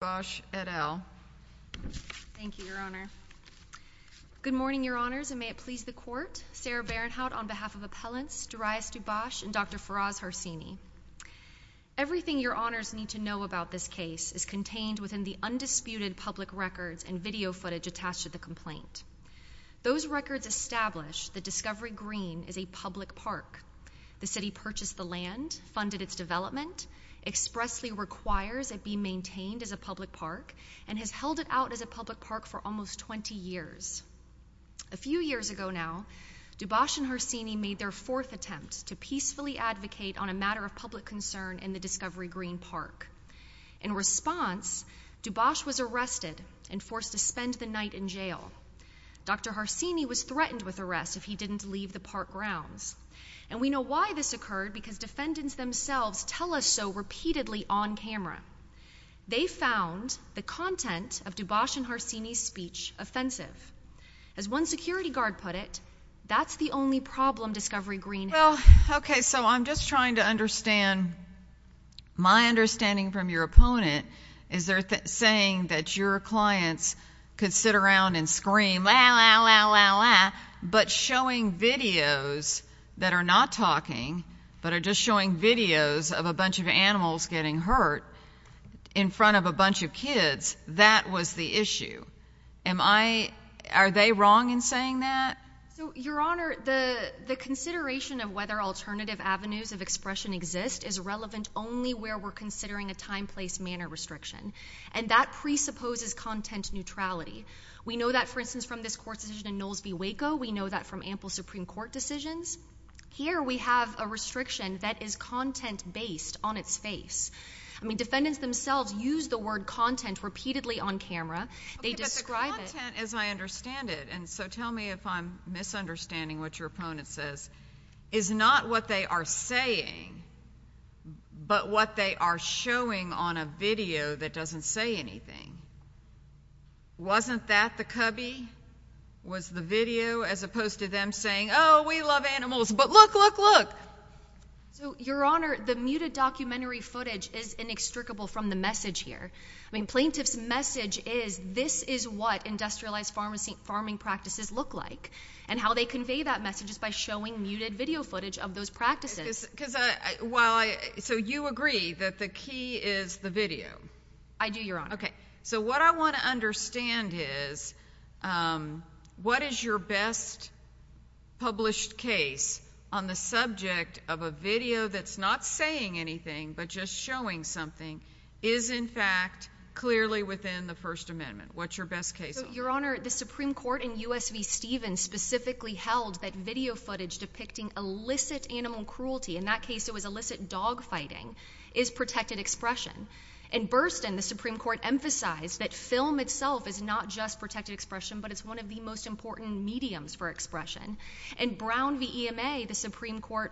Bosch, et al. Thank you, Your Honor. Good morning, Your Honors, and may it please the Court. Sarah Barenhout on behalf of Appellants Darius DuBosch and Dr. Faraz Harsini. Everything Your Honors need to know about this case is contained within the undisputed public records and video footage attached to the complaint. Those records establish that Discovery Green is a public park. The City purchased the land, funded its development, expressly requires it be maintained as a public park, and has held it out as a public park for almost 20 years. A few years ago now, DuBosch and Harsini made their fourth attempt to peacefully advocate on a matter of public concern in the Discovery Green Park. In response, DuBosch was arrested and forced to spend the night in jail. Dr. Harsini was threatened with arrest if he didn't leave the park grounds. And we know why this occurred, because defendants themselves tell us so repeatedly on camera. They found the content of DuBosch and Harsini's speech offensive. As one security guard put it, that's the only problem Discovery Green has. Well, okay, so I'm just trying to understand, my understanding from your opponent is they're saying that your clients could sit around and scream, la la la la la, but showing videos that are not talking, but are just showing videos of a bunch of animals getting hurt in front of a bunch of kids, that was the issue. Am I, are they wrong in saying that? So, Your Honor, the consideration of whether alternative avenues of expression exist is relevant only where we're considering a time, place, manner restriction. And that presupposes content neutrality. We know that, for instance, from this court decision in Knowles v. Waco, we know that from ample Supreme Court decisions. Here, we have a restriction that is content-based on its face. I mean, defendants themselves use the word content repeatedly on camera. Okay, but the content, as I understand it, and so tell me if I'm misunderstanding what your opponent says, is not what they are saying, but what they are showing on a video that is not a video, as opposed to them saying, oh, we love animals, but look, look, look. So, Your Honor, the muted documentary footage is inextricable from the message here. I mean, plaintiff's message is this is what industrialized farming practices look like. And how they convey that message is by showing muted video footage of those practices. Because, while I, so you agree that the key is the video? I do, Your Honor. Okay, so what I want to understand is what is your best published case on the subject of a video that's not saying anything, but just showing something, is, in fact, clearly within the First Amendment? What's your best case? Your Honor, the Supreme Court in U.S. v. Stevens specifically held that video footage depicting illicit animal cruelty, in that case it was illicit dog fighting, is protected expression. In Burston, the Supreme Court emphasized that film itself is not just protected expression, but it's one of the most important mediums for expression. In Brown v. EMA, the Supreme Court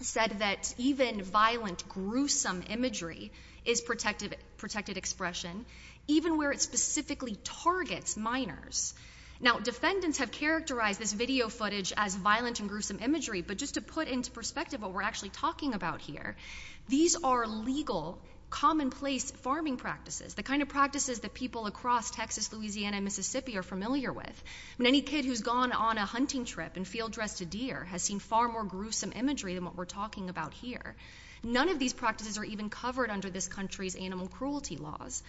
said that even violent, gruesome imagery is protected expression, even where it specifically targets minors. Now, defendants have characterized this video footage as violent and gruesome imagery, but just to put into perspective what we're actually talking about here, these are legal, commonplace farming practices, the kind of practices that people across Texas, Louisiana, and Mississippi are familiar with. I mean, any kid who's gone on a hunting trip and field dressed a deer has seen far more gruesome imagery than what we're talking about here. None of these practices are even covered under this country's animal cruelty laws.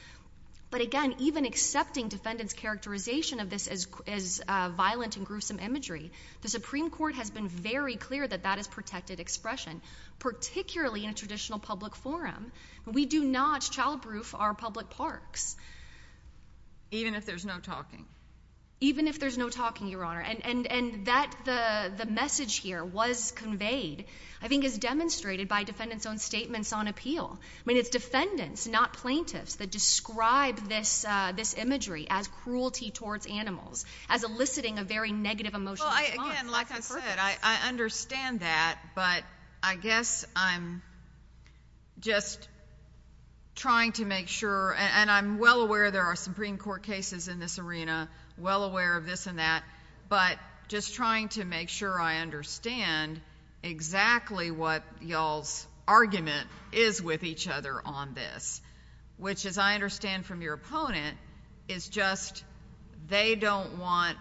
But again, even accepting defendants' characterization of this as violent and gruesome imagery, the Supreme Court has been very clear that that is protected expression, particularly in a traditional public forum. We do not childproof our public parks. Even if there's no talking? Even if there's no talking, Your Honor. And that, the message here was conveyed, I think is demonstrated by defendants' own statements on appeal. I mean, it's defendants, not plaintiffs, that describe this imagery as cruelty towards animals, as eliciting a very negative emotional Again, like I said, I understand that, but I guess I'm just trying to make sure, and I'm well aware there are Supreme Court cases in this arena, well aware of this and that, but just trying to make sure I understand exactly what y'all's argument is with each other on this. Which, as I understand from your opponent, is just they don't want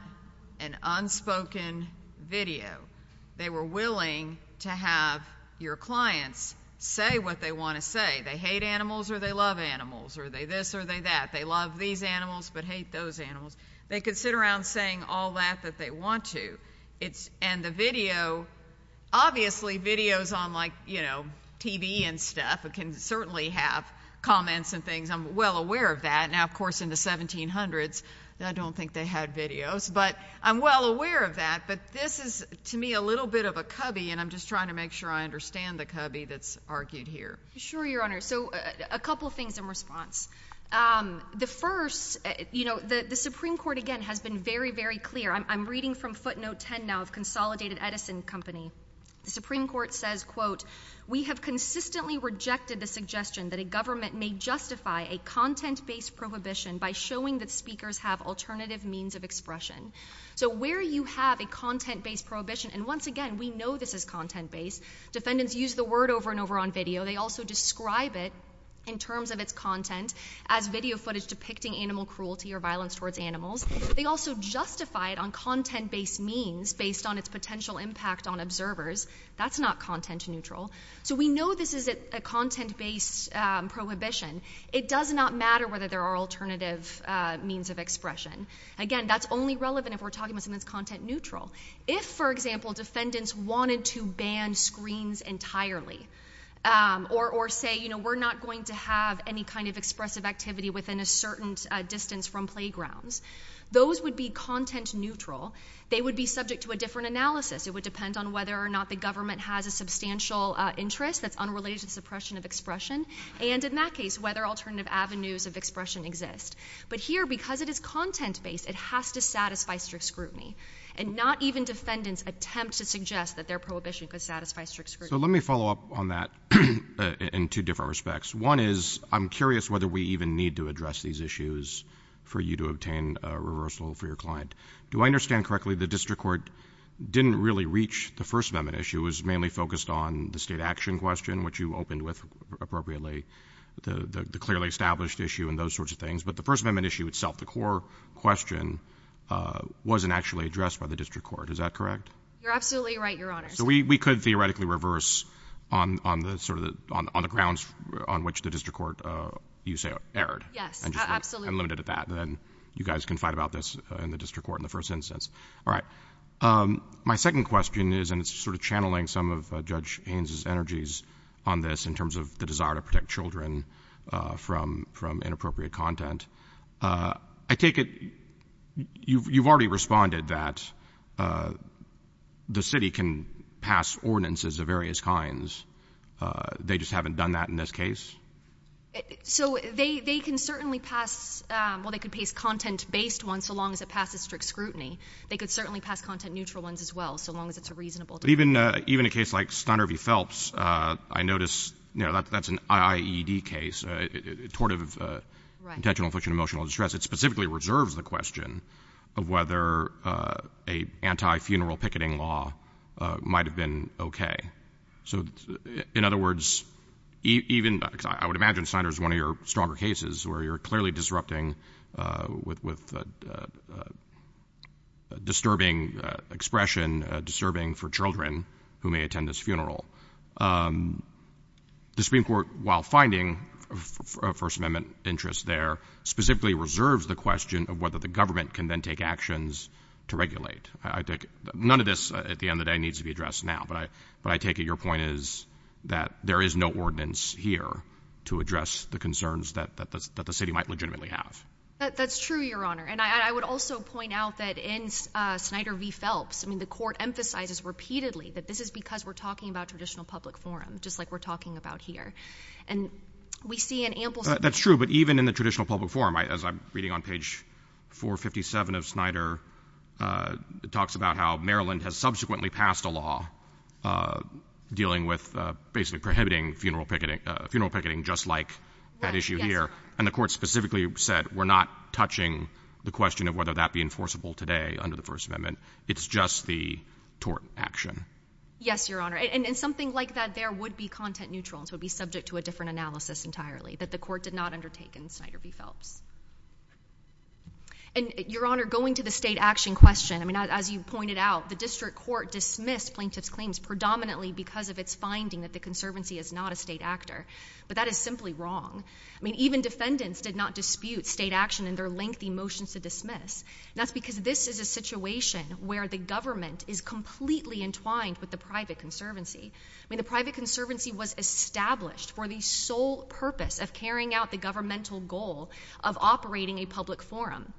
an unspoken video. They were willing to have your clients say what they want to say. They hate animals or they love animals. Are they this or are they that? They love these animals but hate those animals. They could sit around saying all that that they want to. And the video, obviously videos on like, you know, TV and stuff can certainly have comments and things. I'm well aware of that. Now, of course, in the 1700s, I don't think they had videos. But I'm well aware of that. But this is, to me, a little bit of a cubby, and I'm just trying to make sure I understand the cubby that's argued here. Sure, Your Honor. So a couple things in response. The first, you know, the Supreme Court, again, has been very, very clear. I'm reading from footnote 10 now of Consolidated Edison Company. The Supreme Court says, quote, we have consistently rejected the suggestion that a government may justify a content-based prohibition by showing that speakers have alternative means of expression. So where you have a content-based prohibition, and once again, we know this is content-based. Defendants use the word over and over on video. They also describe it in terms of its content as video footage depicting animal cruelty or violence towards animals. They also justify it on content-based means based on its potential impact on observers. That's not content-neutral. So we know this is a content-based prohibition. It does not matter whether there are alternative means of expression. Again, that's only relevant if we're talking about something that's content-neutral. If, for example, defendants wanted to ban screens entirely or say, you know, we're not going to have any kind of expressive activity within a certain distance from playgrounds, those would be content-neutral. They would be subject to a different analysis. It would depend on whether or not the government has a substantial interest that's unrelated to the suppression of expression, and in that case, whether alternative avenues of expression exist. But here, because it is content-based, it has to satisfy strict scrutiny, and not even defendants attempt to suggest that their prohibition could satisfy strict scrutiny. So let me follow up on that in two different respects. One is, I'm curious whether we even need to address these issues for you to obtain a reversal for your client. Do I understand correctly the district court didn't really reach the first amendment issue? It was mainly focused on the state action question, which you opened with appropriately, the clearly established issue and those sorts of things. But the first amendment issue itself, the core question, wasn't actually addressed by the district court. Is that correct? You're absolutely right, Your Honors. So we could theoretically reverse on the grounds on which the district court, you say, erred. Yes, absolutely. And just look unlimited at that, and then you guys can fight about this in the district court in the first instance. All right. My second question is, and it's sort of channeling some of Judge Haynes's energies on this in terms of the desire to protect children from inappropriate content. I take it you've already responded that the city can pass ordinances of various kinds. They just haven't done that in this case? So they can certainly pass, well, they could pass content-based ones so long as it passes strict scrutiny. They could certainly pass content-neutral ones as well, so long as it's a reasonable decision. But even a case like Snyder v. Phelps, I notice, you know, that's an IAED case, Tortive Intentional Infliction of Emotional Distress. It specifically reserves the question of whether a anti-funeral picketing law might have been okay. So in other words, even, I would imagine Snyder's one of your stronger cases where you're clearly disrupting with disturbing expression, disturbing for children who may attend this funeral. The Supreme Court, while finding a First Amendment interest there, specifically reserves the question of whether the government can then take actions to regulate. None of this, at the end of the day, needs to be addressed now. But I take it your point is that there is no ordinance here to address the concerns that the city might legitimately have. That's true, Your Honor. And I would also point out that in Snyder v. Phelps, I mean, the court emphasizes repeatedly that this is because we're talking about traditional public forum, just like we're talking about here. And we see an ample That's true. But even in the traditional public forum, as I'm reading on page 457 of Snyder, it talks about how Maryland has subsequently passed a law dealing with basically prohibiting funeral picketing just like that issue here. And the court specifically said we're not touching the question of whether that be enforceable today under the First Amendment. It's just the tort action. Yes, Your Honor. And in something like that, there would be content neutrals would be subject to a different analysis entirely that the court did not undertake in Snyder v. Phelps. And, Your Honor, going to the state action question, I mean, as you pointed out, the district court dismissed plaintiff's claims predominantly because of its finding that the conservancy is not a state actor. But that is simply wrong. I mean, even defendants did not dispute state action in their lengthy motions to dismiss. And that's because this is a situation where the government is completely entwined with the private conservancy. I mean, the private conservancy was established for the sole purpose of carrying out the governmental goal of operating a public forum.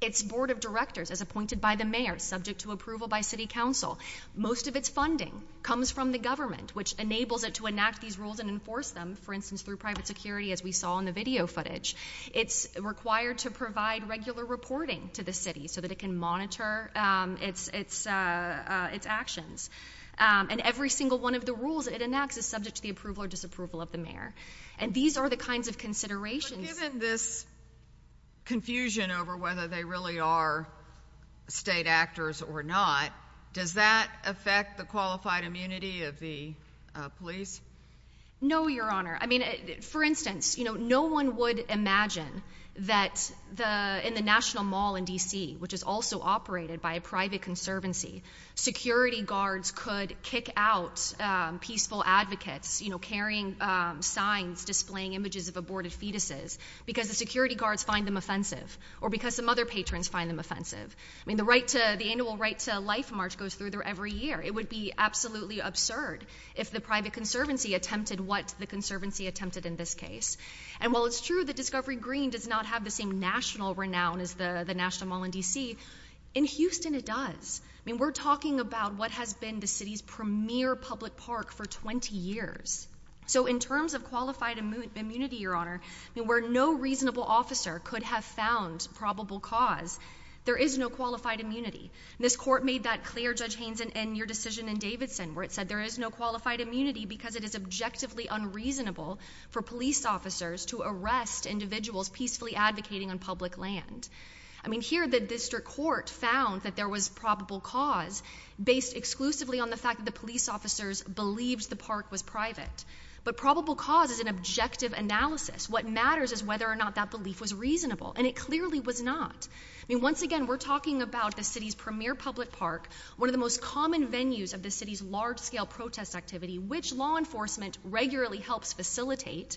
Its board of directors is appointed by the mayor, subject to approval by city council. Most of its funding comes from the government, which enables it to enact these rules and enforce them, for instance, through private security as we saw in the video footage. It's required to provide regular reporting to the city so that it can monitor its actions. And every single one of the rules it enacts is subject to the approval or disapproval of the mayor. And these are the kinds of considerations Given this confusion over whether they really are state actors or not, does that affect the qualified immunity of the police? No, Your Honor. I mean, for instance, you know, no one would imagine that in the National Mall in D.C., which is also operated by a private conservancy, security guards could kick out peaceful advocates, you know, carrying signs displaying images of aborted fetuses because the security guards find them offensive or because some other patrons find them offensive. I mean, the right to, the annual right to life march goes through there every year. It would be absolutely absurd if the private conservancy attempted what the conservancy attempted in this case. And while it's true that Discovery Green does not have the same national renown as the National Mall in D.C., in Houston it does. I mean, we're talking about what has been the city's premier public park for 20 years. So in terms of qualified immunity, Your Honor, where no reasonable officer could have found probable cause, there is no qualified immunity. This court made that clear, Judge Haynes, in your decision in Davidson, where it said there is no qualified immunity because it is objectively unreasonable for police officers to arrest individuals peacefully advocating on public land. I mean, here the district court found that there was probable cause based exclusively on the fact that the police officers believed the park was private. But probable cause is an objective analysis. What matters is whether or not that belief was reasonable, and it clearly was not. I mean, once again, we're talking about the city's premier public park, one of the most common venues of the city's large-scale protest activity, which law enforcement regularly helps facilitate,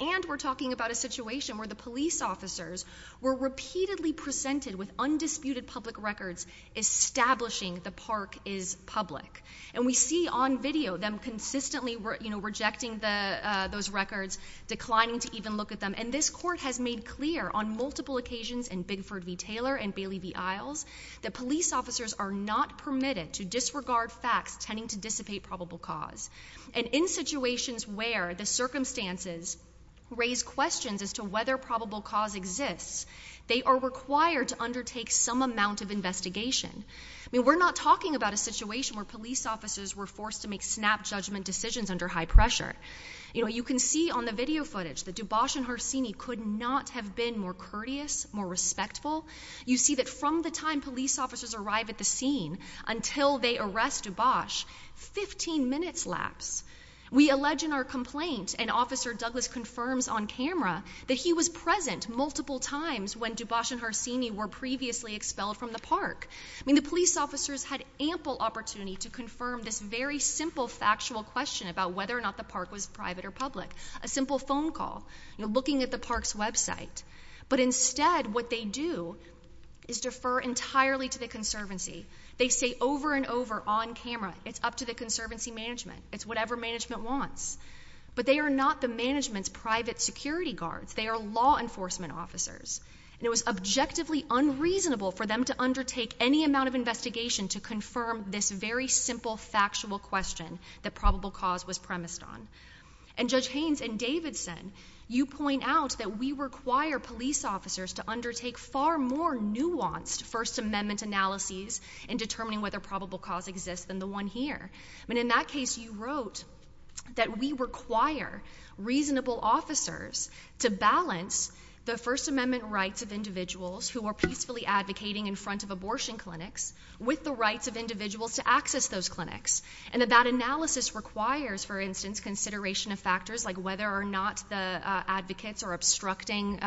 and we're talking about a situation where the police officers were repeatedly presented with undisputed public records establishing the park is public. And we see on video them consistently, you know, rejecting those records, declining to even look at them. And this court has made clear on multiple occasions in Bigford v. Taylor and Bailey v. Isles that police officers are not permitted to disregard facts tending to dissipate probable cause. And in situations where the circumstances raise questions as to whether probable cause exists, they are required to undertake some amount of investigation. I mean, we're not talking about a situation where police officers were forced to make snap judgment decisions under high pressure. You know, you can see on the video footage that Dubois and Harsini could not have been more courteous, more respectful. You see that from the time police officers arrive at the scene until they arrest Dubois, 15 minutes lapse. We allege in our complaint, and Officer Douglas confirms on camera, that he was present multiple times when Dubois and Harsini were previously expelled from the park. I mean, the police officers had ample opportunity to confirm this very simple factual question about whether or not the park was private or public, a simple phone call, you know, looking at the park's website. But instead, what they do is defer entirely to the conservancy. They say over and over on camera, it's up to the conservancy management. It's whatever management wants. But they are not the management's private security guards. They are law enforcement officers. And it was objectively unreasonable for them to undertake any amount of investigation to confirm this very simple factual question that probable cause was premised on. And Judge Haynes and Davidson, you point out that we require police officers to undertake far more nuanced First Amendment analyses in determining whether probable cause exists than the one here. I mean, in that case, you wrote that we require reasonable officers to balance the First Amendment rights of individuals who are peacefully advocating in front of abortion clinics with the rights of individuals to access those clinics. And that that analysis requires, for instance, consideration of factors like whether or not the advocates are obstructing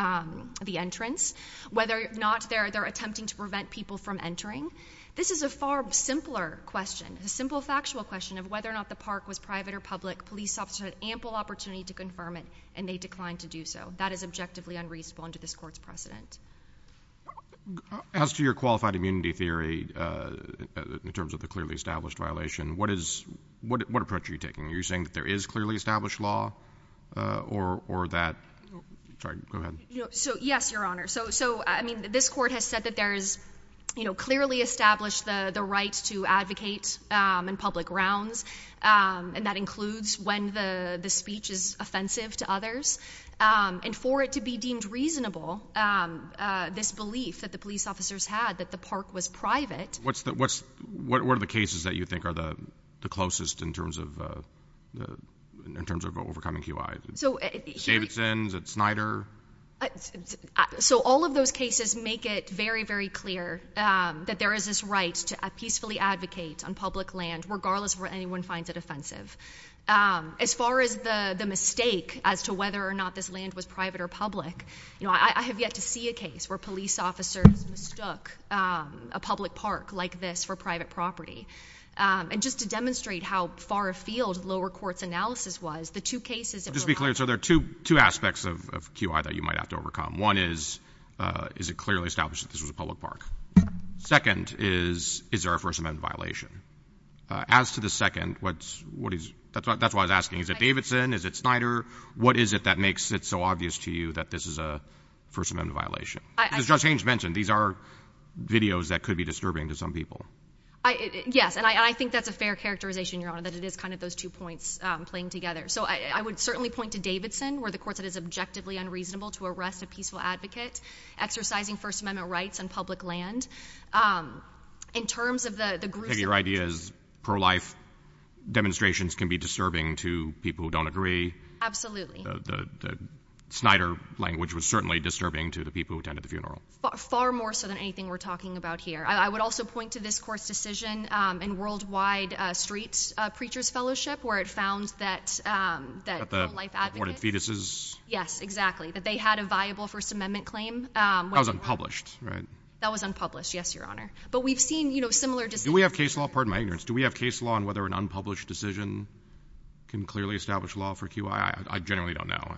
the entrance, whether or not they're attempting to prevent people from entering. This is a far simpler question, a simple factual question of whether or not the park was private or public. Police officers had ample opportunity to confirm it, and they declined to do so. That is objectively unreasonable under this court's precedent. As to your qualified immunity theory in terms of the clearly established violation, what is what approach are you taking? Are you saying that there is clearly established law or that so? Yes, Your Honor. So so I mean, this court has said that there is, you know, clearly established the rights to advocate on public grounds. And that includes when the speech is offensive to others and for it to be deemed reasonable. This belief that the police officers had that the park was private. What's that? What's what? What are the cases that you think are the closest in terms of the in terms of overcoming you? I so Davidson's at Snyder. So all of those cases make it very, very clear that there is this right to peacefully advocate on public land, regardless of where anyone finds it offensive. As far as the mistake as to whether or not this land was private or public, you know, I have yet to see a case where police officers mistook a public park like this for private property. Um, and just to demonstrate how far afield lower courts analysis was the two cases. Just be clear. So there are 22 aspects of Q I that you might have to overcome. One is, uh, is it clearly established that this was a public park? Second is, is there a first amendment violation as to the second? What's what is that? That's why I was asking. Is it Davidson? Is it Snyder? What is it that makes it so obvious to you that this is a first amendment violation? Just change mentioned. These are videos that could be disturbing to some people. Yes, and I think that's a fair characterization. You're on that. It is kind of those two points playing together. So I would certainly point to Davidson where the courts that is objectively unreasonable to arrest a peaceful advocate exercising First Amendment rights and public land. Um, in terms of the group, your ideas pro life demonstrations can be disturbing to people who don't agree. Absolutely. The Snyder language was certainly disturbing to the people who attended the funeral. Far more so than anything we're talking about here. I would also point to this court's decision in Worldwide Street Preachers Fellowship where it found that, um, that life advocate fetuses. Yes, exactly. That they had a viable First Amendment claim. Um, that was unpublished. Right? That was unpublished. Yes, Your Honor. But we've seen, you know, similar to we have case law. Pardon my ignorance. Do we have case law on whether an unpublished decision can clearly establish law for Q. I generally don't know.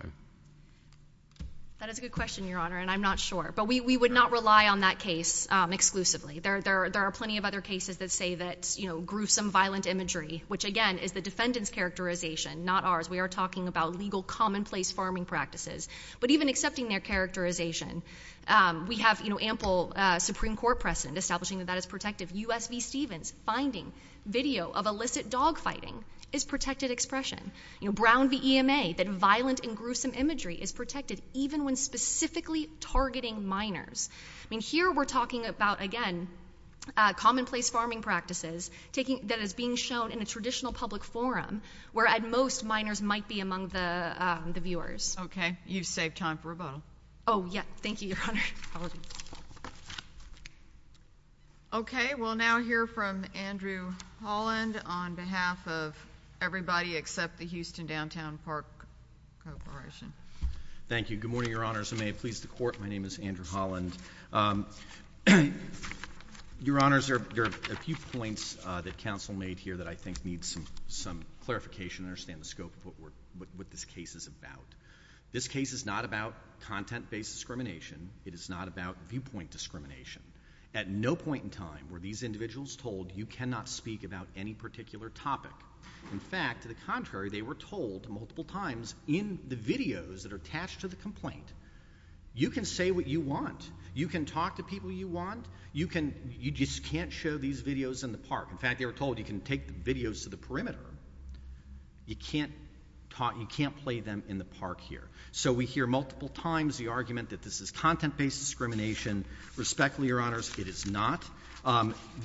That is a good question, Your Honor, and I'm not sure. But we would not rely on that case exclusively. There are plenty of other cases that say that, you know, gruesome, violent imagery, which again is the defendant's characterization, not ours. We are talking about legal commonplace farming practices, but even accepting their characterization, we have ample Supreme Court precedent establishing that that is protective. U. S. V. Stevens finding video of illicit dogfighting is protected expression. You know, Brown v. E. M. A. That violent and gruesome imagery is protected even when specifically targeting minors. I mean, here we're talking about again commonplace farming practices taking that is being shown in a traditional public forum, where at most minors might be among the viewers. Okay, you've saved time for rebuttal. Oh, yeah. Thank you, Your Honor. Okay, we'll now hear from Andrew Holland on behalf of everybody except the Houston Downtown Park Corporation. Thank you. Good morning, Your Honors. And may it please the Court, my name is Andrew Holland. Your Honors, there are a few points that counsel made here that I think need some clarification to understand the scope of what this case is about. This case is not about content-based discrimination. It is not about viewpoint discrimination. At no point in time were these individuals told you cannot speak about any particular topic. In fact, to the contrary, they were told multiple times in the videos that are attached to the complaint, you can say what you want. You can talk to people you want. You can, you just can't show these videos in the park. In fact, they were told you can take the videos to the perimeter. You can't play them in the park here. So we hear multiple times the argument that this is content-based discrimination. Respectfully, Your Honors, it is not.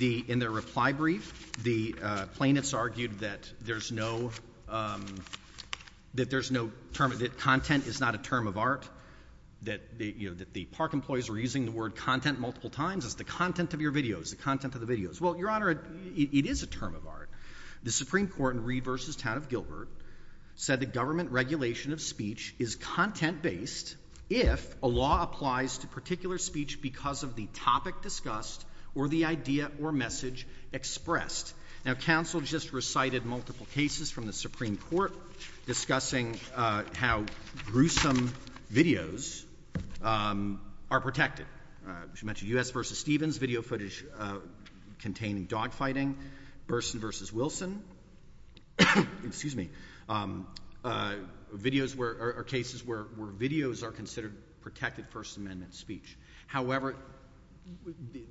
In their reply brief, the plaintiffs argued that there's no, that there's no term, that content is not a term of art, that the park employees were using the word content multiple times. It's the content of your videos, the content of the videos. Well, Your Honor, it is a term of art. The Supreme Court in Reed v. Town of Gilbert said that government regulation of speech is content-based if a law applies to particular speech because of the topic discussed or the idea or message expressed. Now, counsel just recited multiple cases from the Supreme Court discussing, uh, how gruesome videos, um, are protected. Uh, as you mentioned, U.S. v. Stevens, video footage, uh, containing dogfighting. Burson v. Wilson, excuse me, um, uh, videos where, or cases where videos are considered protected First Amendment speech. However,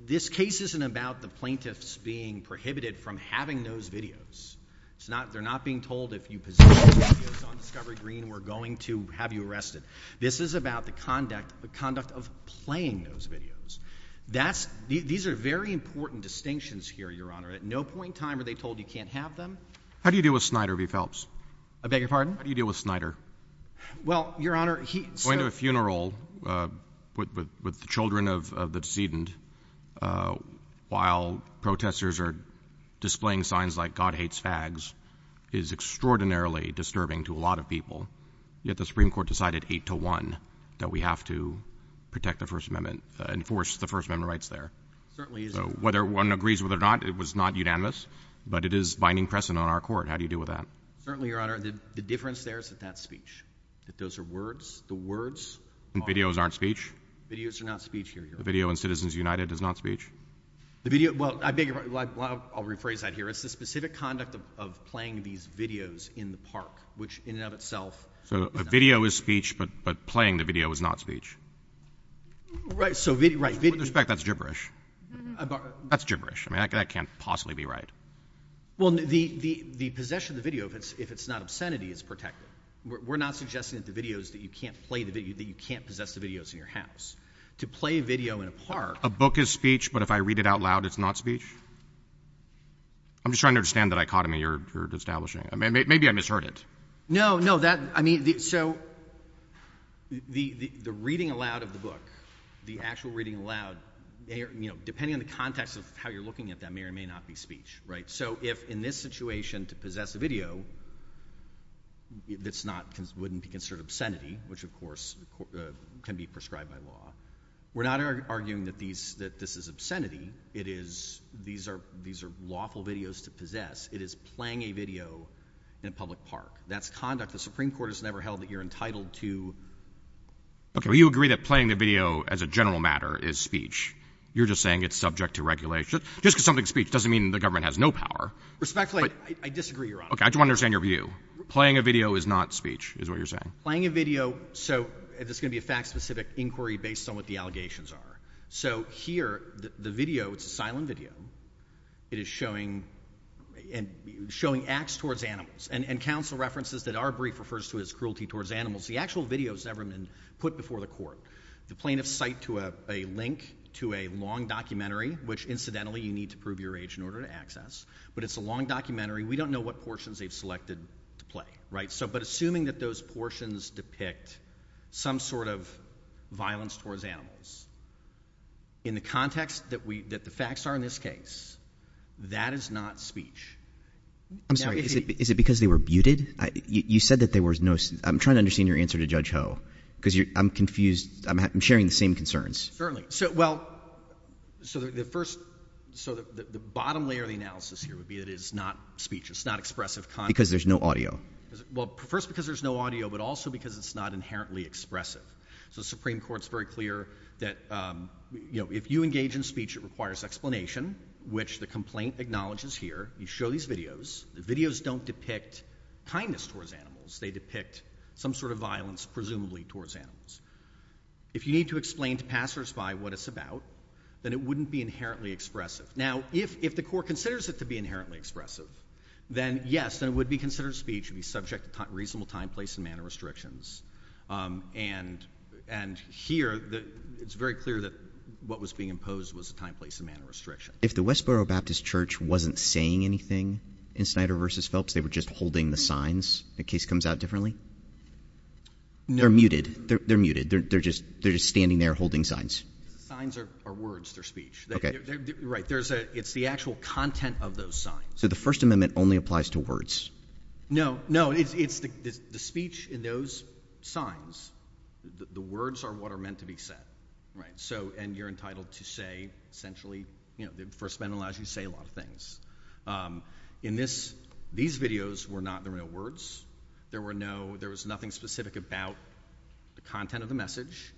this case isn't about the plaintiffs being prohibited from having those videos. It's not, they're not being told if you possess those videos on Discovery Green, we're going to have you arrested. This is about the conduct, the conduct of playing those videos. That's, these are very important distinctions here, Your Honor. At no point in time are they told you can't have them. How do you deal with Snyder v. Phelps? I beg your pardon? How do you deal with Snyder? Well, Your Honor, he... Going to a funeral, uh, with, with, with the children of, of the decedent, uh, while protestors are displaying signs like, God hates fags, is extraordinarily disturbing to a lot of people, yet the Supreme Court decided eight to one that we have to protect the First Amendment, enforce the First Amendment rights there. Certainly is. So, whether one agrees with it or not, it was not unanimous, but it is binding precedent on our court. How do you deal with that? Certainly, Your Honor, the, the difference there is that that's speech, that those are words, the words are... And videos aren't speech? Videos are not speech, Your Honor. The video in Citizens United is not speech? The video, well, I beg your pardon, well, I'll, I'll rephrase that here. It's the specific conduct of, of playing these videos in the park, which in and of itself is not speech. So a video is speech, but, but playing the video is not speech? Right, so video, right, video... With respect, that's gibberish. Uh, but... That's gibberish. I mean, that, that can't possibly be right. Well, the, the, the possession of the video, if it's, if it's not obscenity, is protected. We're not suggesting that the video is that you can't play the video, that you can't possess the videos in your house. To play a video in a park... A book is speech, but if I read it out loud, it's not speech? I'm just trying to understand the dichotomy you're, you're establishing. Maybe, maybe I misheard it. No, no, that, I mean, the, so, the, the, the reading aloud of the book, the actual reading aloud, you know, depending on the context of how you're looking at that, may or may not be speech, right? So if, in this situation, to possess a video, that's not, wouldn't be considered obscenity, which of course, uh, can be prescribed by law. We're not arguing that these, that this is obscenity. It is, these are, these are lawful videos to possess. It is playing a video in a public park. That's conduct. The Supreme Court has never held that you're entitled to... Okay, well you agree that playing the video, as a general matter, is speech. You're just saying it's subject to regulation. Just, just because something's speech doesn't mean the government has no power. Respectfully, I, I disagree, Your Honor. Okay, I just want to understand your view. Playing a video is not speech, is what you're saying. Playing a video, so, this is going to be a fact-specific inquiry based on what the allegations are. So here, the, the video, it's a silent video, it is showing, and, showing acts towards animals, and, and counsel references that our brief refers to as cruelty towards animals. The actual video has never been put before the court. The plaintiffs cite to a, a link to a long documentary, which incidentally, you need to prove your age in order to access, but it's a long documentary. We don't know what portions they've selected to play, right? So, but assuming that those portions depict some sort of violence towards animals, in the context that we, that the facts are in this case, that is not speech. I'm sorry, is it, is it because they were muted? You said that there was no, I'm trying to understand your answer to Judge Ho, because you're, I'm confused, I'm, I'm sharing the same concerns. Certainly. So, well, so the, the first, so the, the bottom layer of the analysis here would be that it is not speech, it's not expressive content. Because there's no audio. Because, well, first because there's no audio, but also because it's not inherently expressive. So Supreme Court's very clear that, you know, if you engage in speech, it requires explanation, which the complaint acknowledges here. You show these videos, the videos don't depict kindness towards animals, they depict some sort of violence, presumably, towards animals. If you need to explain to passers-by what it's about, then it wouldn't be inherently expressive. Now, if, if the court considers it to be inherently expressive, then, yes, then it would be considered speech and be subject to reasonable time, place, and manner restrictions, and, and here the, it's very clear that what was being imposed was a time, place, and manner restriction. If the Westboro Baptist Church wasn't saying anything in Snyder v. Phelps, they were just holding the signs. The case comes out differently? They're, they're muted. They're, they're just, they're just standing there holding signs. Signs are, are words. They're speech. Okay. Right. There's a, it's the actual content of those signs. So the First Amendment only applies to words? No. No. It's, it's the, the, the speech in those signs, the, the words are what are meant to be said. Right. So, and you're entitled to say, essentially, you know, the First Amendment allows you to say a lot of things. Um, in this, these videos were not the real words. There were no, there was nothing specific about the content of the message,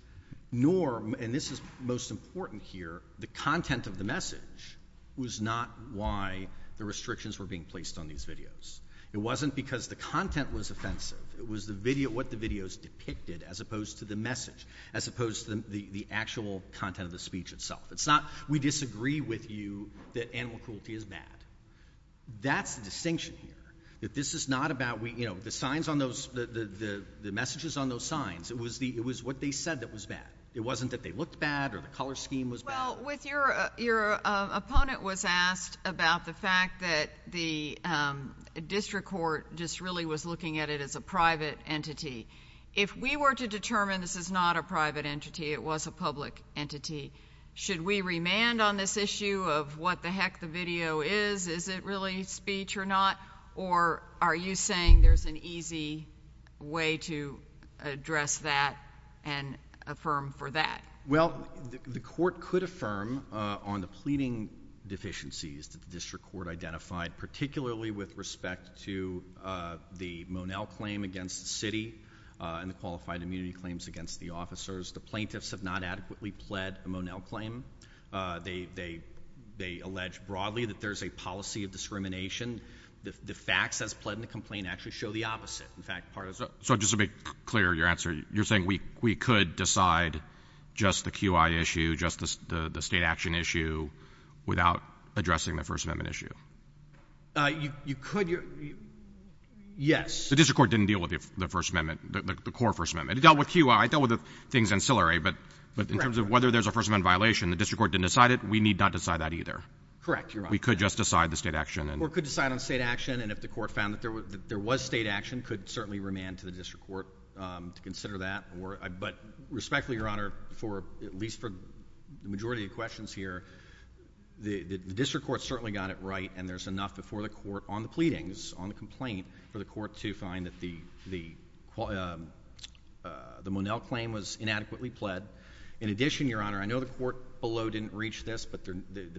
nor, and this is most important here, the content of the message was not why the restrictions were being placed on these videos. It wasn't because the content was offensive. It was the video, what the videos depicted, as opposed to the message, as opposed to the, the actual content of the speech itself. It's not, we disagree with you that animal cruelty is bad. That's the distinction here. That this is not about, we, you know, the signs on those, the, the, the, the messages on those signs, it was the, it was what they said that was bad. It wasn't that they looked bad or the color scheme was bad. Well, with your, your opponent was asked about the fact that the, um, district court just really was looking at it as a private entity. If we were to determine this is not a private entity, it was a public entity. Should we remand on this issue of what the heck the video is? Is it really speech or not? Or are you saying there's an easy way to address that and affirm for that? Well, the, the court could affirm, uh, on the pleading deficiencies that the district court identified, particularly with respect to, uh, the Monell claim against the city, uh, and the qualified immunity claims against the officers. The plaintiffs have not adequately pled a Monell claim. Uh, they, they, they allege broadly that there's a policy of discrimination. The facts as pled in the complaint actually show the opposite. In fact, part of it. So just to be clear, your answer, you're saying we, we could decide just the QI issue, just the, the, the state action issue without addressing the first amendment issue? Uh, you, you could, you're, yes. The district court didn't deal with the first amendment, the, the core first amendment. It dealt with QI, it dealt with the things ancillary, but, but in terms of whether there's a first amendment violation, the district court didn't decide it. We need not decide that either. Correct. You're right. We could just decide the state action. Or could decide on state action and if the court found that there was, that there was state action, could certainly remand to the district court, um, to consider that or, but respectfully, your honor, for, at least for the majority of questions here, the, the district court certainly got it right and there's enough before the court on the pleadings on the complaint for the court to find that the, the, um, uh, the Monell claim was inadequately pled. In addition, your honor, I know the court below didn't reach this, but the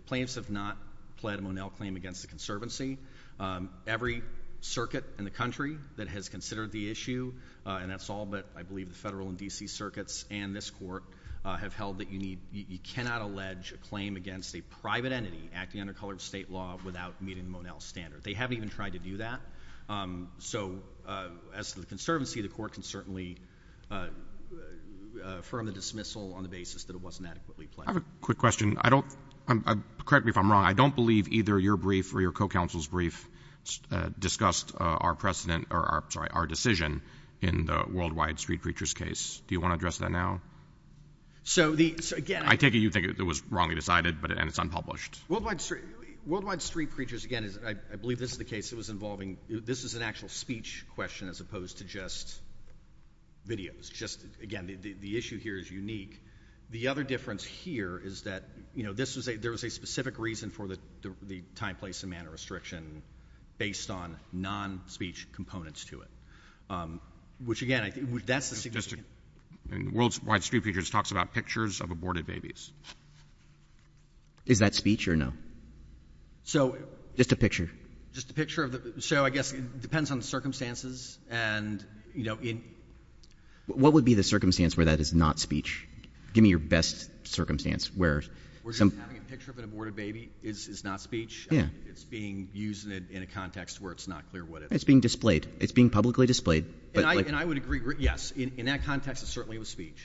plaintiffs have not pled a Monell claim against the conservancy. Um, every circuit in the country that has considered the issue, uh, and that's all but I believe the federal and DC circuits and this court, uh, have held that you need, you cannot allege a claim against a private entity acting under colored state law without meeting Monell standard. They haven't even tried to do that. Um, so, uh, as to the conservancy, the court can certainly, uh, uh, affirm the dismissal on the basis that it wasn't adequately pled. I have a quick question. I don't, correct me if I'm wrong, I don't believe either your brief or your co-counsel's brief, uh, discussed, uh, our precedent or our, sorry, our decision in the Worldwide Street Preachers case. Do you want to address that now? So the, so again, I take it you think it was wrongly decided, but, and it's unpublished. Worldwide Street, Worldwide Street Preachers, again, is, I, I believe this is the case. It was involving, this is an actual speech question as opposed to just videos. Just again, the, the, the issue here is unique. The other difference here is that, you know, this was a, there was a specific reason for the, the, the time, place, and manner restriction based on non-speech components to it. Um, which again, I think that's the significance. And Worldwide Street Preachers talks about pictures of aborted babies. Is that speech or no? So just a picture. Just a picture of the, so I guess it depends on the circumstances and, you know, in, what would be the circumstance where that is not speech? Give me your best circumstance where some. Having a picture of an aborted baby is, is not speech. Yeah. It's being used in a, in a context where it's not clear what it is. It's being displayed. It's being publicly displayed. But. And I, and I would agree, yes, in, in that context it certainly was speech.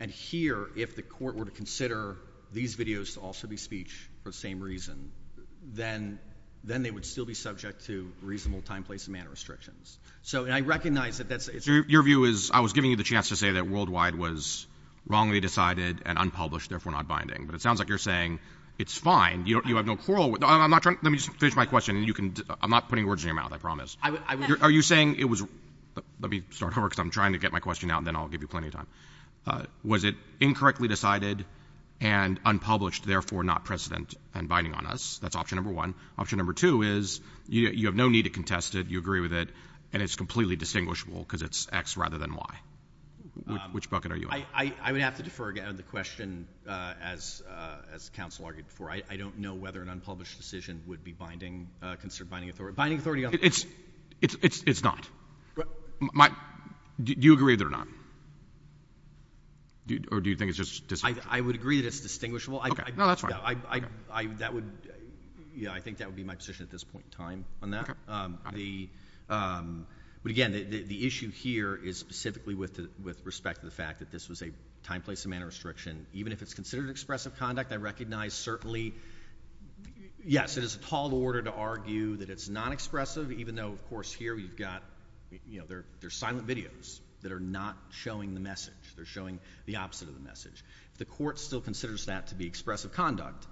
And here, if the court were to consider these videos to also be speech for the same reason, then, then they would still be subject to reasonable time, place, and manner restrictions. So and I recognize that that's. Your view is, I was giving you the chance to say that Worldwide was wrongly decided and unpublished, therefore not binding, but it sounds like you're saying it's fine. You don't, you have no quarrel. I'm not trying. Let me just finish my question and you can, I'm not putting words in your mouth, I promise. Are you saying it was, let me start over because I'm trying to get my question out and then I'll give you plenty of time. Was it incorrectly decided and unpublished, therefore not precedent and binding on us? That's option number one. Option number two is you have no need to contest it. You agree with it and it's completely distinguishable because it's X rather than Y. Which bucket are you on? I, I, I would have to defer again on the question, uh, as, uh, as counsel argued before. I, I don't know whether an unpublished decision would be binding, uh, considered binding authority. Binding authority on. It's, it's, it's, it's not. My, do you agree with it or not? Or do you think it's just distinguishable? I, I would agree that it's distinguishable. Okay. No, that's fine. I, I, I, that would, yeah, I think that would be my position at this point in time on that. Okay. Um, the, um, but again, the, the issue here is specifically with the, with respect to the fact that this was a time, place, and manner restriction, even if it's considered expressive conduct, I recognize certainly, yes, it is a tall order to argue that it's non-expressive, even though of course here you've got, you know, there, there's silent videos that are not showing the message. They're showing the opposite of the message. The court still considers that to be expressive conduct.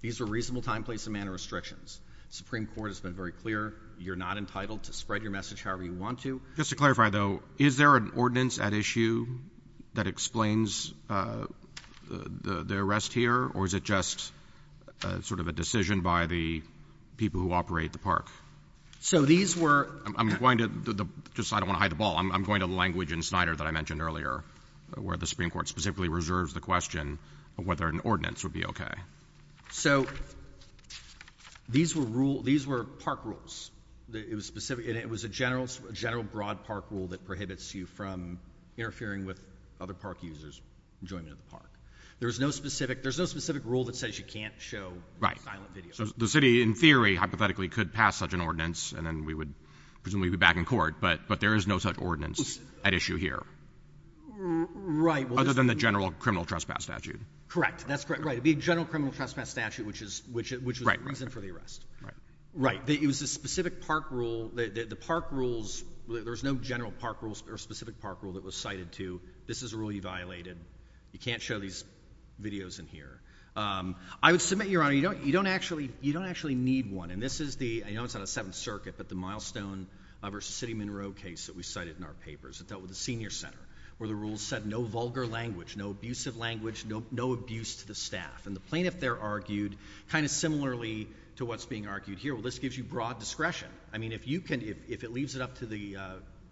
These were reasonable time, place, and manner restrictions. Supreme Court has been very clear. You're not entitled to spread your message however you want to. Just to clarify though, is there an ordinance at issue that explains, uh, the, the arrest here or is it just, uh, sort of a decision by the people who operate the park? So these were... I'm, I'm going to the, the, just I don't want to hide the ball, I'm, I'm going to the language in Snyder that I mentioned earlier, where the Supreme Court specifically reserves the question of whether an ordinance would be okay. So these were rule, these were park rules. It was specific and it was a general, general broad park rule that prohibits you from interfering with other park users' enjoyment of the park. There was no specific, there's no specific rule that says you can't show silent videos. So the city in theory, hypothetically, could pass such an ordinance and then we would presumably be back in court, but, but there is no such ordinance at issue here. Right. Other than the general criminal trespass statute. Correct. Right. That's correct. Right. It'd be a general criminal trespass statute, which is, which, which was the reason for the arrest. Right. Right. It was a specific park rule. The, the, the park rules, there's no general park rules or specific park rule that was cited to, this is a rule you violated. You can't show these videos in here. Um, I would submit, Your Honor, you don't, you don't actually, you don't actually need one. And this is the, I know it's not a Seventh Circuit, but the Milestone versus City Monroe case that we cited in our papers that dealt with the senior center where the rules said no vulgar language, no abusive language, no, no abuse to the staff and the plaintiff there argued kind of similarly to what's being argued here. Well, this gives you broad discretion. I mean, if you can, if, if it leaves it up to the, uh,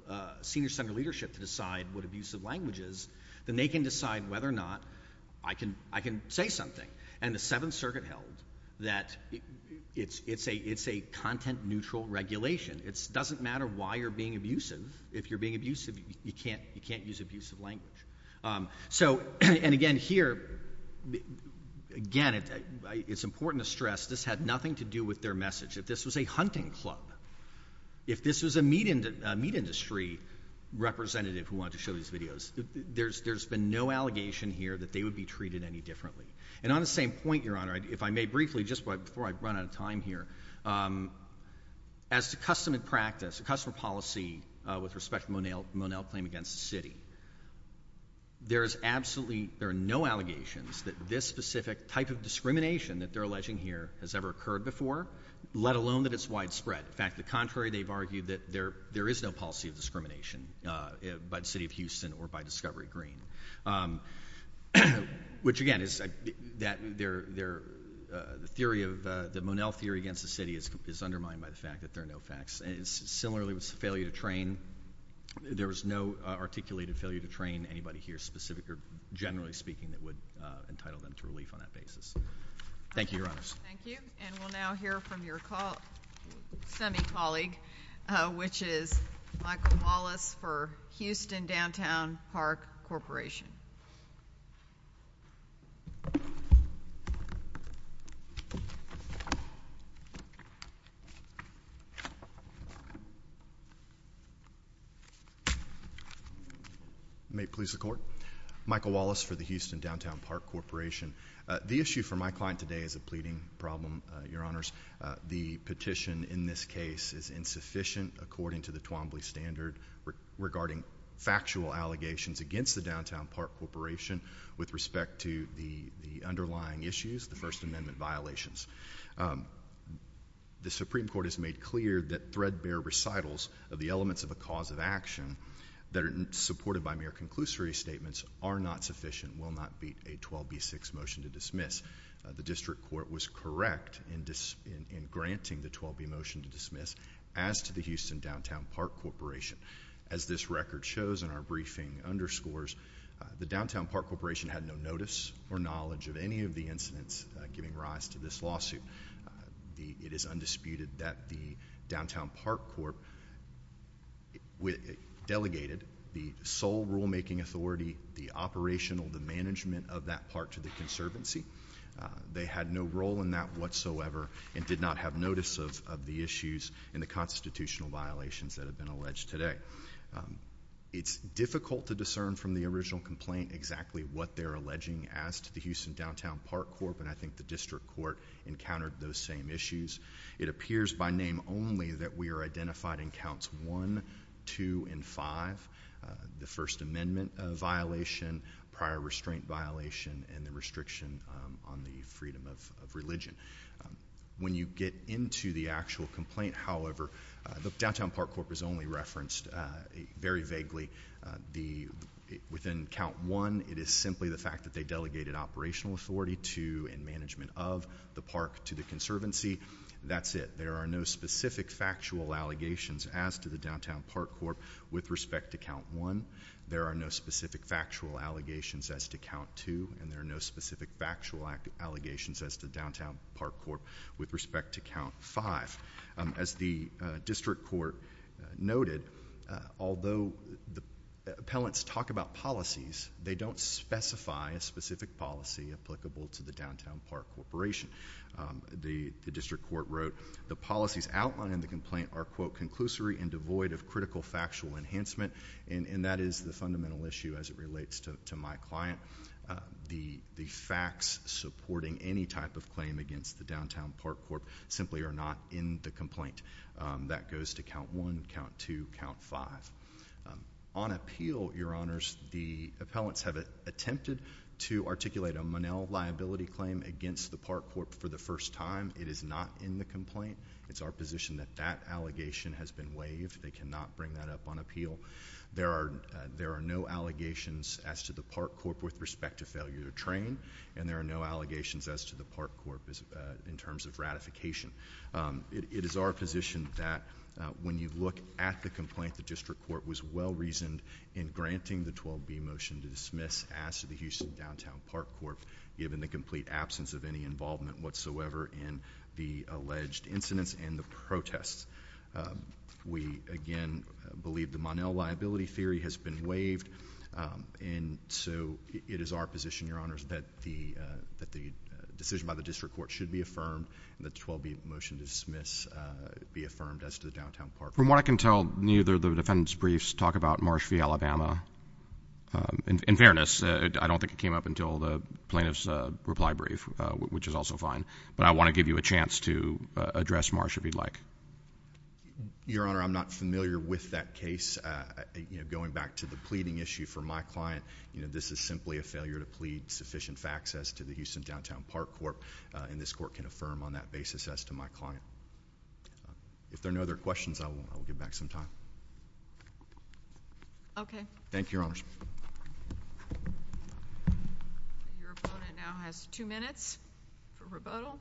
uh, senior center leadership to decide what abusive languages, then they can decide whether or not I can, I can say something. And the Seventh Circuit held that it's, it's a, it's a content neutral regulation. It's doesn't matter why you're being abusive. If you're being abusive, you can't, you can't use abusive language. Um, so, and again, here, again, it's important to stress this had nothing to do with their message. If this was a hunting club, if this was a meat, uh, meat industry representative who wanted to show these videos, there's, there's been no allegation here that they would be treated any differently. And on the same point, Your Honor, if I may briefly, just before I run out of time here, um, as to custom and practice, a customer policy, uh, with respect to Monel, Monel claim against the city, there is absolutely, there are no allegations that this specific type of discrimination that they're alleging here has ever occurred before, let alone that it's widespread. In fact, the contrary, they've argued that there, there is no policy of discrimination, uh, by the city of Houston or by Discovery Green. Um, which again, is that they're, they're, uh, the theory of, uh, the Monel theory against the city is, is undermined by the fact that there are no facts. And similarly with failure to train, there was no, uh, articulated failure to train anybody here specific or generally speaking that would, uh, entitle them to relief on that basis. Thank you, Your Honor. Thank you. And we'll now hear from your call, semi-colleague, uh, which is Michael Wallace for Houston Downtown Park Corporation. May it please the Court. Michael Wallace for the Houston Downtown Park Corporation. Uh, the issue for my client today is a pleading problem, uh, Your Honors. Uh, the petition in this case is insufficient according to the Twombly standard regarding factual allegations against the Downtown Park Corporation with respect to the, the underlying issues, the First Amendment violations. Um, the Supreme Court has made clear that threadbare recitals of the elements of a cause of action that are supported by mere conclusory statements are not sufficient, will not beat a 12B6 motion to dismiss. The District Court was correct in dis-, in, in granting the 12B motion to dismiss as to the Houston Downtown Park Corporation. As this record shows in our briefing underscores, uh, the Downtown Park Corporation had no notice or knowledge of any of the incidents, uh, giving rise to this lawsuit. Uh, the, it is undisputed that the Downtown Park Corp. We, uh, delegated the sole rulemaking authority, the operational, the management of that part to the Conservancy. Uh, they had no role in that whatsoever and did not have notice of, of the issues and the constitutional violations that have been alleged today. Um, it's difficult to discern from the original complaint exactly what they're alleging as to the Houston Downtown Park Corp., and I think the District Court encountered those same issues. It appears by name only that we are identified in counts one, two, and five, uh, the First Amendment, uh, violation, prior restraint violation, and the restriction, um, on the freedom of, of religion. Um, when you get into the actual complaint, however, uh, the Downtown Park Corp. is only referenced, uh, very vaguely. Uh, the, within count one, it is simply the fact that they delegated operational authority to and management of the park to the Conservancy. That's it. There are no specific factual allegations as to the Downtown Park Corp. with respect to count one. There are no specific factual allegations as to count two, and there are no specific factual allegations as to Downtown Park Corp. with respect to count five. Um, as the, uh, District Court, uh, noted, uh, although the appellants talk about policies, they don't specify a specific policy applicable to the Downtown Park Corporation. Um, the, the District Court wrote, the policies outlined in the complaint are, quote, conclusory and devoid of critical factual enhancement, and, and that is the fundamental issue as it relates to, to my client. Uh, the, the facts supporting any type of claim against the Downtown Park Corp. simply are not in the complaint. Um, that goes to count one, count two, count five. Um, on appeal, your honors, the appellants have attempted to articulate a Monell liability claim against the Park Corp. for the first time. It is not in the complaint. It's our position that that allegation has been waived. They cannot bring that up on appeal. There are, uh, there are no allegations as to the Park Corp. with respect to failure to train, and there are no allegations as to the Park Corp. as, uh, in terms of ratification. Um, it, it is our position that, uh, when you look at the complaint, the District Court was well reasoned in granting the 12B motion to dismiss as to the Houston Downtown Park Corp. given the complete absence of any involvement whatsoever in the alleged incidents and the protests. Um, we, again, believe the Monell liability theory has been waived, um, and so it is our position, your honors, that the, uh, that the decision by the District Court should be affirmed, and the 12B motion to dismiss, uh, be affirmed as to the Downtown Park Corp. From what I can tell, neither of the defendant's briefs talk about Marsh v. Alabama, um, in fairness. Uh, I don't think it came up until the plaintiff's, uh, reply brief, uh, which is also fine, but I want to give you a chance to, uh, address Marsh if you'd like. Your honor, I'm not familiar with that case, uh, uh, you know, going back to the pleading issue for my client, you know, this is simply a failure to plead sufficient facts as to the Houston Downtown Park Corp., uh, and this court can affirm on that basis as to my client. Uh, if there are no other questions, I will, I will give back some time. Okay. Thank you, your honors. Your opponent now has two minutes for rebuttal.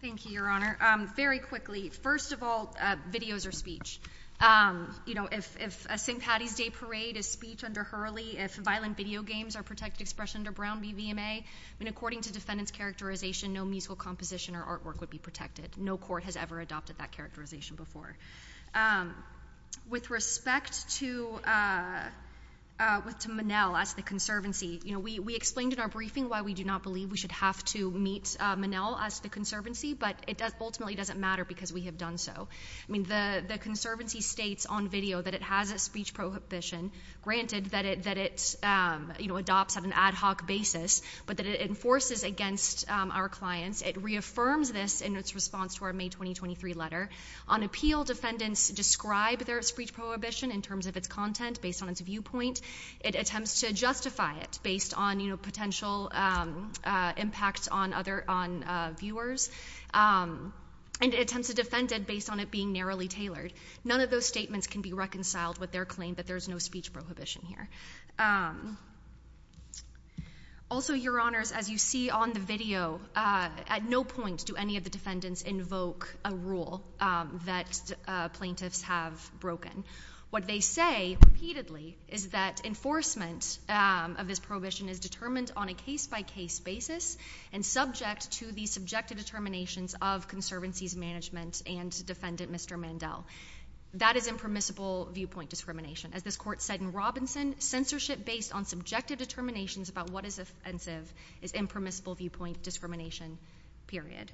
Thank you, your honor. Um, very quickly, first of all, uh, videos or speech. Um, you know, if, if a St. Paddy's Day parade is speech under Hurley, if violent video games are protected expression under Brown v. VMA, I mean, according to defendant's characterization, no musical composition or artwork would be protected. No court has ever adopted that characterization before. Um, with respect to, uh, uh, with, to Monell as the conservancy, you know, we, we explained in our briefing why we do not believe we should have to meet, uh, Monell as the conservancy, but it does, ultimately doesn't matter because we have done so. I mean, the, the conservancy states on video that it has a speech prohibition, granted that it, that it, um, you know, adopts on an ad hoc basis, but that it enforces against, um, our clients. It reaffirms this in its response to our May 2023 letter. On appeal, defendants describe their speech prohibition in terms of its content based on its viewpoint. It attempts to justify it based on, you know, potential, um, uh, impacts on other, on, uh, viewers. Um, and it attempts to defend it based on it being narrowly tailored. None of those statements can be reconciled with their claim that there's no speech prohibition here. Um, also, your honors, as you see on the video, uh, at no point do any of the defendants invoke a rule, um, that, uh, plaintiffs have broken. What they say repeatedly is that enforcement, um, of this prohibition is determined on a case by case basis and subject to the subjective determinations of conservancy's management and defendant, Mr. Mandel. That is impermissible viewpoint discrimination. As this court said in Robinson, censorship based on subjective determinations about what is offensive is impermissible viewpoint discrimination, period.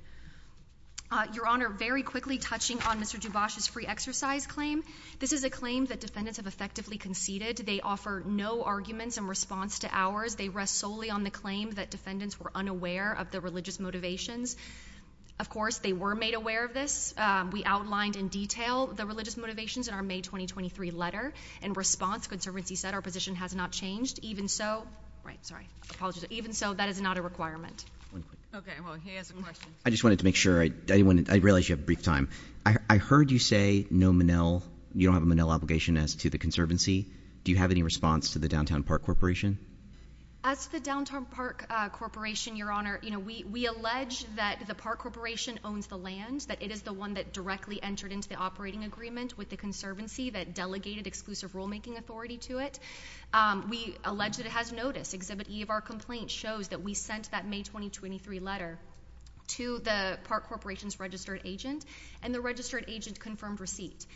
Uh, your honor, very quickly touching on Mr. Dubois' free exercise claim. This is a claim that defendants have effectively conceded. They offer no arguments in response to ours. They rest solely on the claim that defendants were unaware of the religious motivations. Of course, they were made aware of this. Um, we outlined in detail the religious motivations in our May 2023 letter. In response, conservancy said our position has not changed. Even so, right, sorry, apologies. Even so, that is not a requirement. One quick question. Okay, well, he has a question. I just wanted to make sure. I didn't want to, I realize you have a brief time. I heard you say no Monell, you don't have a Monell obligation as to the conservancy. Do you have any response to the downtown park corporation? As the downtown park corporation, your honor, you know, we, we allege that the park corporation owns the land, that it is the one that directly entered into the operating agreement with the conservancy, that delegated exclusive rulemaking authority to it. Um, we allege that it has notice. Exhibit E of our complaint shows that we sent that May 2023 letter to the park corporation's registered agent, and the registered agent confirmed receipt.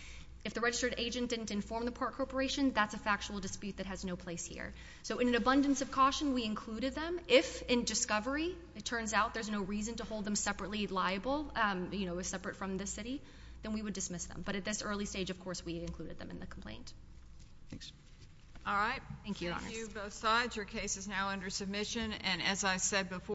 If the registered agent didn't inform the park corporation, that's a factual dispute that has no place here. So in an abundance of caution, we included them. If in discovery, it turns out there's no reason to hold them separately liable, um, you know, separate from the city, then we would dismiss them. But at this early stage, of course, we included them in the complaint. Thanks. All right. Thank you, your honors. Thank you, both sides. Your case is now under submission, and as I said before,